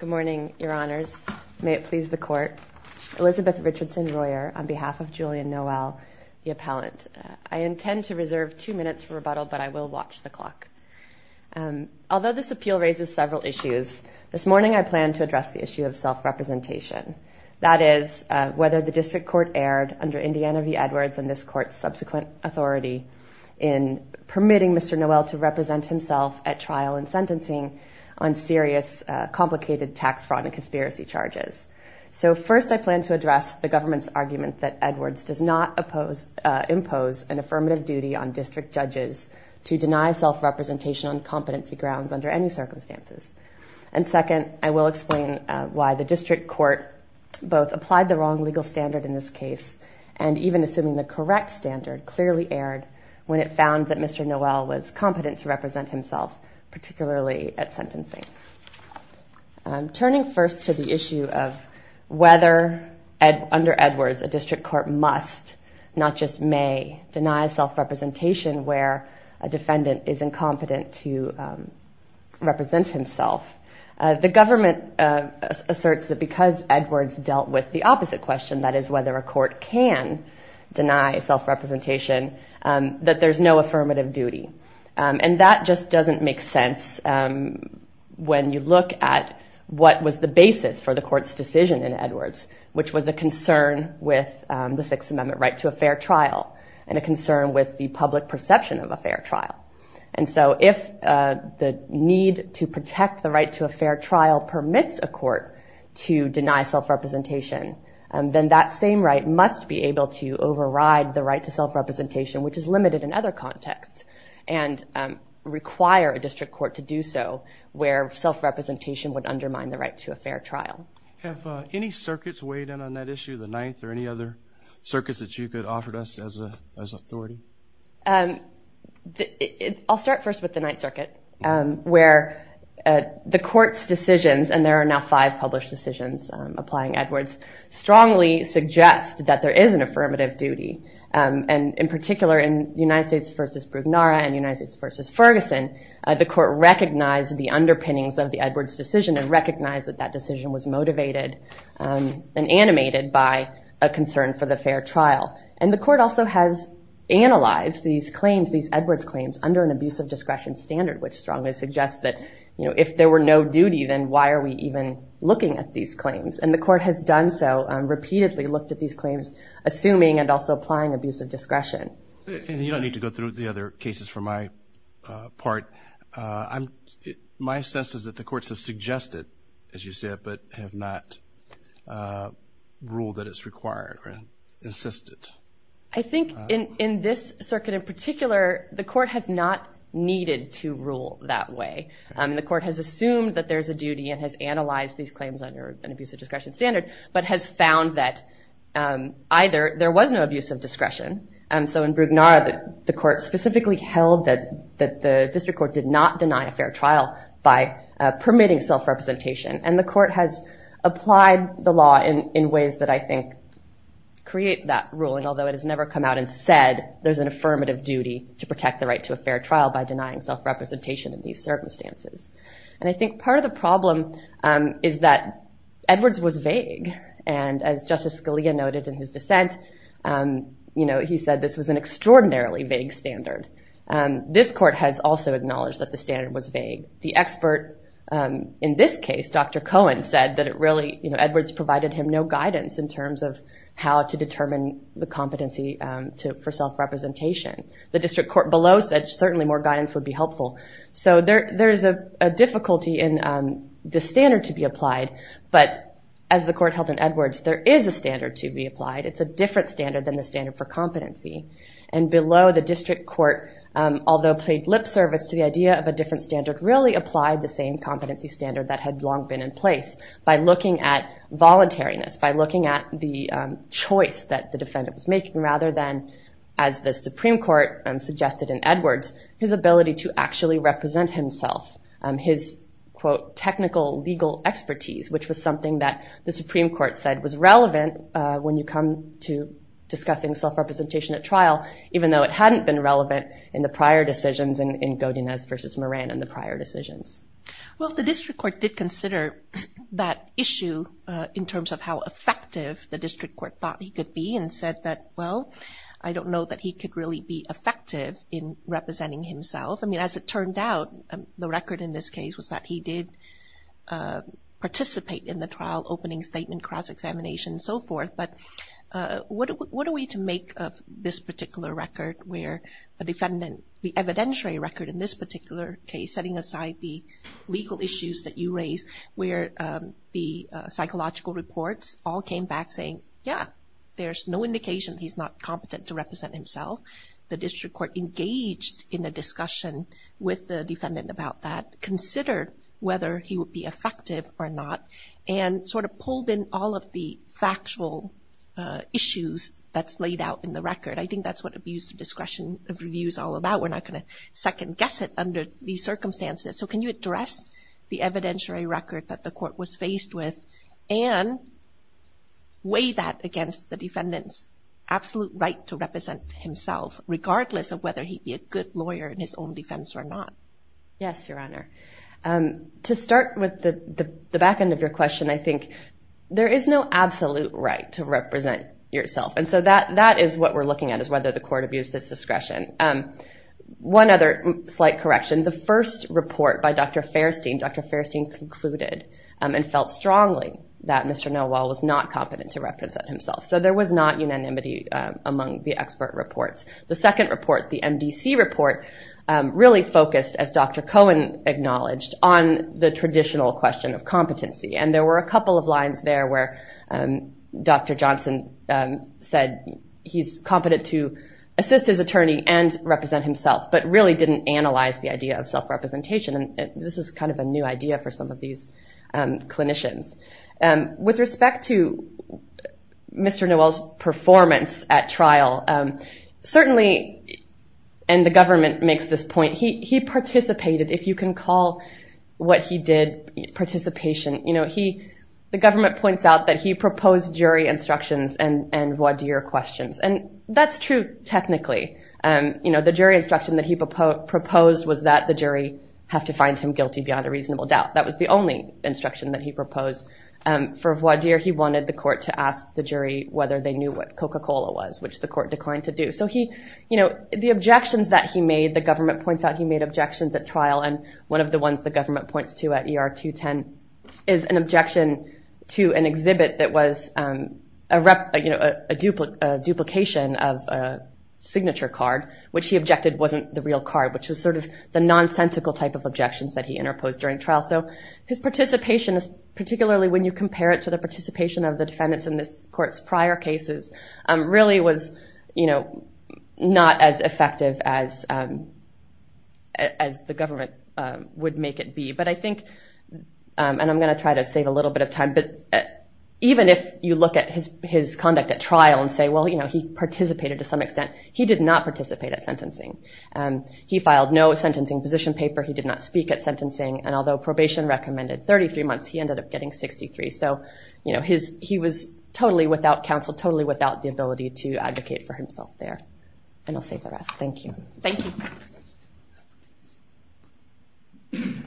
Good morning, your honors. May it please the court. Elizabeth Richardson Royer on behalf of Julien Noel, the appellant. I intend to reserve two minutes for rebuttal, but I will watch the clock. Although this appeal raises several issues, this morning I plan to address the issue of self-representation. That is, whether the district court erred under Indiana v. Edwards and this court's subsequent authority in permitting Mr. Noel to represent himself at trial and sentencing on serious, complicated tax fraud and conspiracy charges. So first, I plan to address the government's argument that Edwards does not impose an affirmative duty on district judges to deny self-representation on competency grounds under any circumstances. And second, I will explain why the district court both applied the wrong legal standard in this case and even assuming the correct standard clearly erred when it found that Mr. Noel was competent to represent himself, particularly at sentencing. Turning first to the issue of whether under Edwards a district court must, not just may, deny self-representation where a defendant is incompetent to represent himself. The government asserts that because Edwards dealt with the opposite question, that is whether a court can deny self-representation, that there's no affirmative duty. And that just doesn't make sense when you look at what was the basis for the court's decision in Edwards, which was a concern with the Sixth Amendment right to a fair trial and a concern with the public perception of a fair trial. And so if the need to protect the right to a fair trial permits a court to deny self-representation, then that same right must be able to override the right to self-representation, which is limited in other contexts and require a district court to do so where self-representation would undermine the right to a fair trial. Have any circuits weighed in on that issue, the Ninth or any other circuits that you could offer to us as authority? I'll start first with the Ninth Circuit, where the court's decisions, and there are now five published decisions applying Edwards, strongly suggest that there is an affirmative duty. And in particular, in United States v. Brugnara and United States v. Ferguson, the court recognized the underpinnings of the Edwards decision and recognized that that decision was motivated and animated by a concern for the fair trial. And the court also has analyzed these claims, these Edwards claims, under an abuse of discretion standard, which strongly suggests that if there were no duty, then why are we even looking at these claims? And the court has done so, repeatedly looked at these claims, assuming and also applying abuse of discretion. And you don't need to go through the other cases for my part. My sense is that the courts have suggested, as you said, but have not ruled that it's required or insisted. I think in this circuit in particular, the court has not needed to rule that way. The court has assumed that there's a duty and has analyzed these claims under an abuse of discretion standard, but has found that either there was no abuse of discretion. So in Brugnara, the court specifically held that the district court did not deny a fair trial by permitting self-representation. And the court has applied the law in ways that I think create that ruling, although it has never come out and said there's an affirmative duty to protect the right to a fair trial by denying self-representation in these circumstances. And I think part of the problem is that Edwards was vague. And as Justice Scalia noted in his dissent, he said this was an extraordinarily vague standard. This court has also acknowledged that the standard was vague. The expert in this case, Dr. Cohen, said that Edwards provided him no guidance in terms of how to determine the competency for self-representation. The district court below said certainly more guidance would be helpful. So there is a difficulty in the standard to be applied, but as the court held in Edwards, there is a standard to be applied. It's a different standard than the standard for competency. And below, the district court, although paid lip service to the idea of a different standard, really applied the same competency standard that had long been in place by looking at voluntariness, by looking at the choice that the defendant was making, rather than, as the Supreme Court suggested in Edwards, his ability to actually represent himself, his, quote, technical legal expertise, which was something that the Supreme Court said was relevant when you come to discussing self-representation at trial, even though it hadn't been relevant in the prior decisions in Godinez versus Moran and the prior decisions. Well, the district court did consider that issue in terms of how effective the district court thought he could be and said that, well, I don't know that he could really be effective in representing himself. I mean, as it turned out, the record in this case was that he did participate in the trial opening statement, cross-examination, and so forth. But what are we to make of this particular record where the defendant, the evidentiary record in this particular case, setting aside the legal issues that you raised, where the psychological reports all came back saying, yeah, there's no indication he's not competent to represent himself. The district court engaged in a discussion with the defendant about that, considered whether he would be effective or not, and sort of pulled in all of the factual issues that's laid out in the record. I think that's what abuse of discretion of review is all about. We're not gonna second-guess it under these circumstances. So can you address the evidentiary record that the court was faced with and weigh that against the defendant's absolute right to represent himself, regardless of whether he'd be a good lawyer in his own defense or not? Yes, Your Honor. To start with the back end of your question, I think there is no absolute right to represent yourself. And so that is what we're looking at, is whether the court abused its discretion. One other slight correction. The first report by Dr. Fairstein, Dr. Fairstein concluded and felt strongly that Mr. Nowal was not competent to represent himself. So there was not unanimity among the expert reports. The second report, the MDC report, really focused, as Dr. Cohen acknowledged, on the traditional question of competency. And there were a couple of lines there where Dr. Johnson said he's competent to assist his attorney and represent himself, but really didn't analyze the idea of self-representation. And this is kind of a new idea for some of these clinicians. With respect to Mr. Nowal's performance at trial, certainly, and the government makes this point, he participated, if you can call what he did participation. The government points out that he proposed jury instructions and voir dire questions. And that's true technically. The jury instruction that he proposed was that the jury have to find him guilty beyond a reasonable doubt. That was the only instruction that he proposed. For voir dire, he wanted the court to ask the jury whether they knew what Coca-Cola was, which the court declined to do. So the objections that he made, the government points out he made objections at trial. And one of the ones the government points to at ER 210 is an objection to an exhibit that was a duplication of a signature card, which he objected wasn't the real card, which was sort of the nonsensical type of objections that he interposed during trial. His participation, particularly when you compare it to the participation of the defendants in this court's prior cases, really was not as effective as the government would make it be. But I think, and I'm gonna try to save a little bit of time, but even if you look at his conduct at trial and say, well, he participated to some extent, he did not participate at sentencing. He filed no sentencing position paper. He did not speak at sentencing. And although probation recommended 33 months, he ended up getting 63. So he was totally without counsel, totally without the ability to advocate for himself there. And I'll save the rest, thank you. Thank you. Thank you.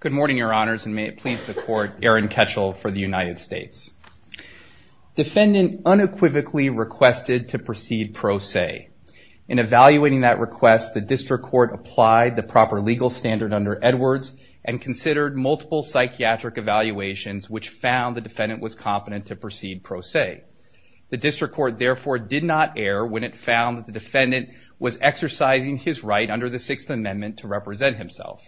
Good morning, your honors, and may it please the court, Aaron Ketchel for the United States. Defendant unequivocally requested to proceed pro se. In evaluating that request, the district court applied the proper legal standard under Edwards and considered multiple psychiatric evaluations which found the defendant was competent to proceed pro se. The district court therefore did not err when it found that the defendant was exercising his right under the Sixth Amendment to represent himself.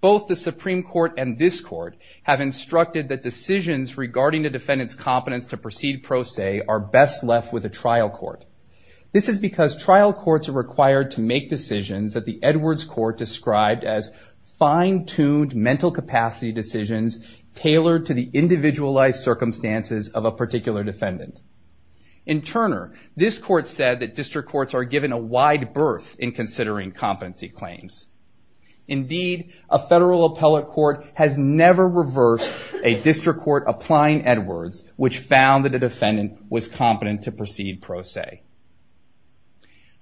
Both the Supreme Court and this court have instructed that decisions regarding the defendant's competence to proceed pro se are best left with a trial court. This is because trial courts are required to make decisions that the Edwards court described as fine-tuned mental capacity decisions tailored to the individualized circumstances of a particular defendant. In Turner, this court said that district courts are given a wide berth in considering competency claims. Indeed, a federal appellate court has never reversed a district court applying Edwards which found that a defendant was competent to proceed pro se.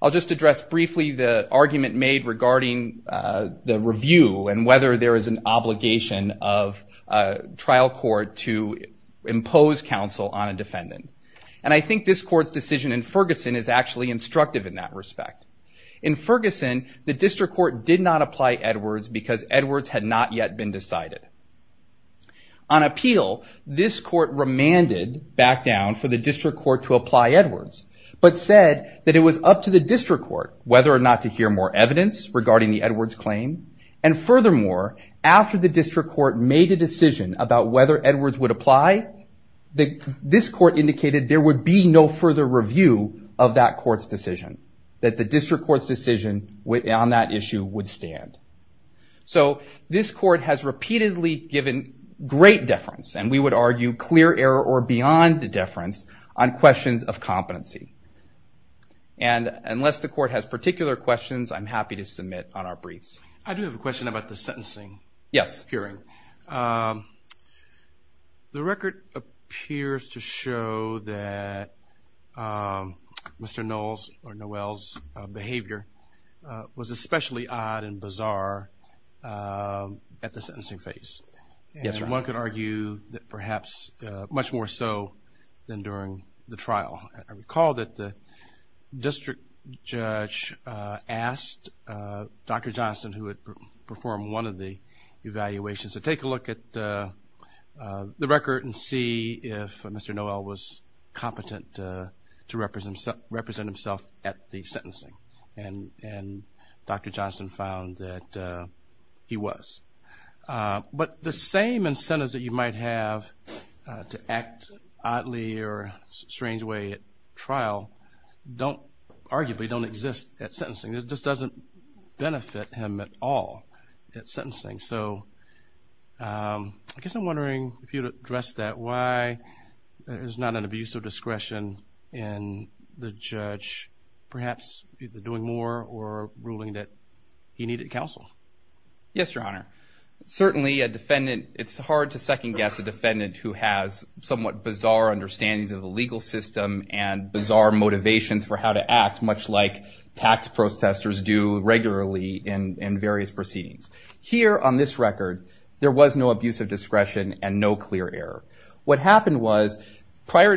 I'll just address briefly the argument made regarding the review and whether there is an obligation of a trial court to impose counsel on a defendant. And I think this court's decision in Ferguson is actually instructive in that respect. In Ferguson, the district court did not apply Edwards because Edwards had not yet been decided. On appeal, this court remanded back down for the district court to apply Edwards. But said that it was up to the district court whether or not to hear more evidence regarding the Edwards claim. And furthermore, after the district court made a decision about whether Edwards would apply, this court indicated there would be no further review of that court's decision. That the district court's decision on that issue would stand. So this court has repeatedly given great deference and we would argue clear error or beyond deference on questions of competency. And unless the court has particular questions, I'm happy to submit on our briefs. I do have a question about the sentencing. Yes. Hearing. The record appears to show that Mr. Knowles or Noel's behavior was especially odd and bizarre at the sentencing phase. Yes, Your Honor. And one could argue that perhaps much more so than during the trial. I recall that the district judge asked Dr. Johnston who had performed one of the evaluations to take a look at the record and see if Mr. Noel was competent to represent himself at the sentencing. And Dr. Johnston found that he was. But the same incentive that you might have to act oddly or strange way at trial don't, arguably, don't exist at sentencing. It just doesn't benefit him at all at sentencing. So I guess I'm wondering if you'd address that. Why there's not an abuse of discretion in the judge perhaps either doing more or ruling that he needed counsel? Yes, Your Honor. Certainly a defendant, it's hard to second guess a defendant who has somewhat bizarre understandings of the legal system and bizarre motivations for how to act much like tax protestors do regularly in various proceedings. Here on this record, there was no abuse of discretion and no clear error. What happened was prior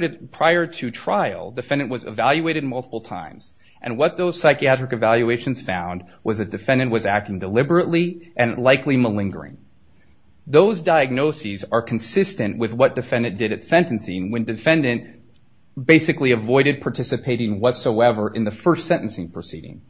to trial, defendant was evaluated multiple times. And what those psychiatric evaluations found was that defendant was acting deliberately and likely malingering. Those diagnoses are consistent with what defendant did at sentencing when defendant basically avoided participating whatsoever in the first sentencing proceeding.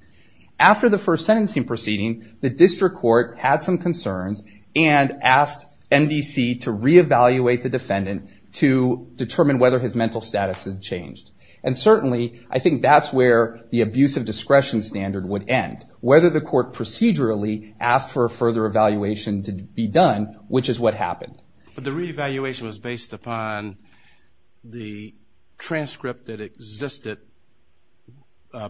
After the first sentencing proceeding, the district court had some concerns and asked MDC to reevaluate the defendant to determine whether his mental status had changed. And certainly, I think that's where the abuse of discretion standard would end. Whether the court procedurally asked for a further evaluation to be done, which is what happened. But the reevaluation was based upon the transcript that existed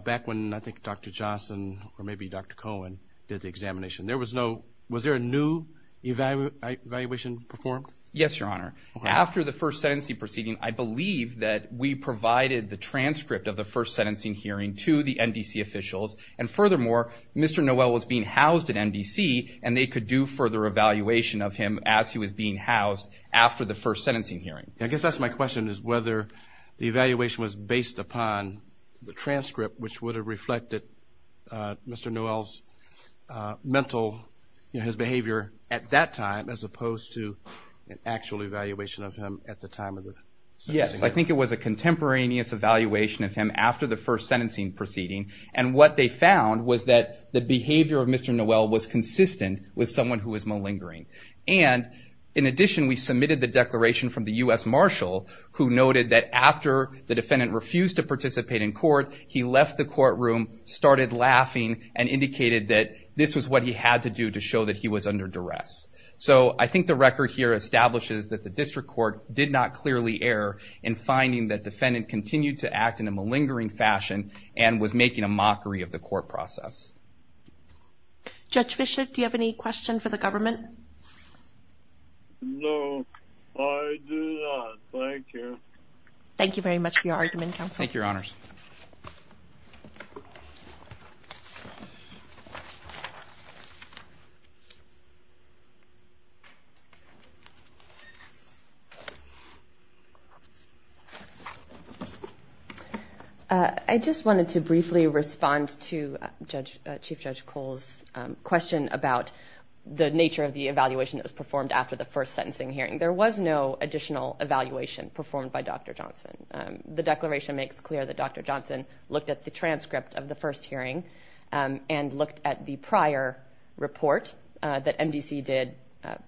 back when I think Dr. Johnson or maybe Dr. Cohen did the examination. There was no, was there a new evaluation performed? Yes, Your Honor. After the first sentencing proceeding, I believe that we provided the transcript of the first sentencing hearing to the MDC officials. And furthermore, Mr. Noel was being housed at MDC and they could do further evaluation of him as he was being housed after the first sentencing hearing. I guess that's my question is whether the evaluation was based upon the transcript which would have reflected Mr. Noel's mental, his behavior at that time, as opposed to an actual evaluation of him at the time of the sentencing hearing. Yes, I think it was a contemporaneous evaluation of him after the first sentencing proceeding. And what they found was that the behavior of Mr. Noel was consistent with someone who was malingering. And in addition, we submitted the declaration from the U.S. Marshal who noted that after the defendant refused to participate in court, he left the courtroom, started laughing, and indicated that this was what he had to do to show that he was under duress. So I think the record here establishes that the district court did not clearly err in finding that defendant continued to act in a malingering fashion and was making a mockery of the court process. Judge Bishop, do you have any question for the government? No, I do not, thank you. Thank you very much for your argument, counsel. Thank you, your honors. I just wanted to briefly respond to Chief Judge Cole's question about the nature of the evaluation that was performed after the first sentencing hearing. There was no additional evaluation performed by Dr. Johnson. The declaration makes clear that Dr. Johnson looked at the transcript of the first hearing and looked at the prior report that MDC did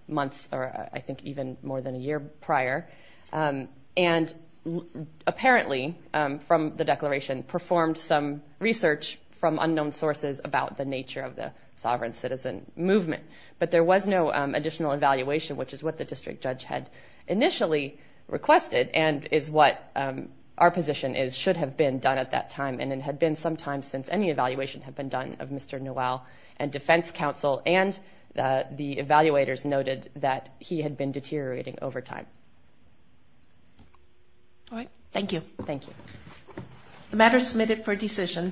months or I think even more than a year prior. And apparently from the declaration performed some research from unknown sources about the nature of the sovereign citizen movement. But there was no additional evaluation, which is what the district judge had initially requested and is what our position is should have been done at that time. And it had been some time since any evaluation had been done of Mr. Noel and defense counsel and the evaluators noted that he had been deteriorating over time. All right. Thank you. Thank you. The matter is submitted for decision.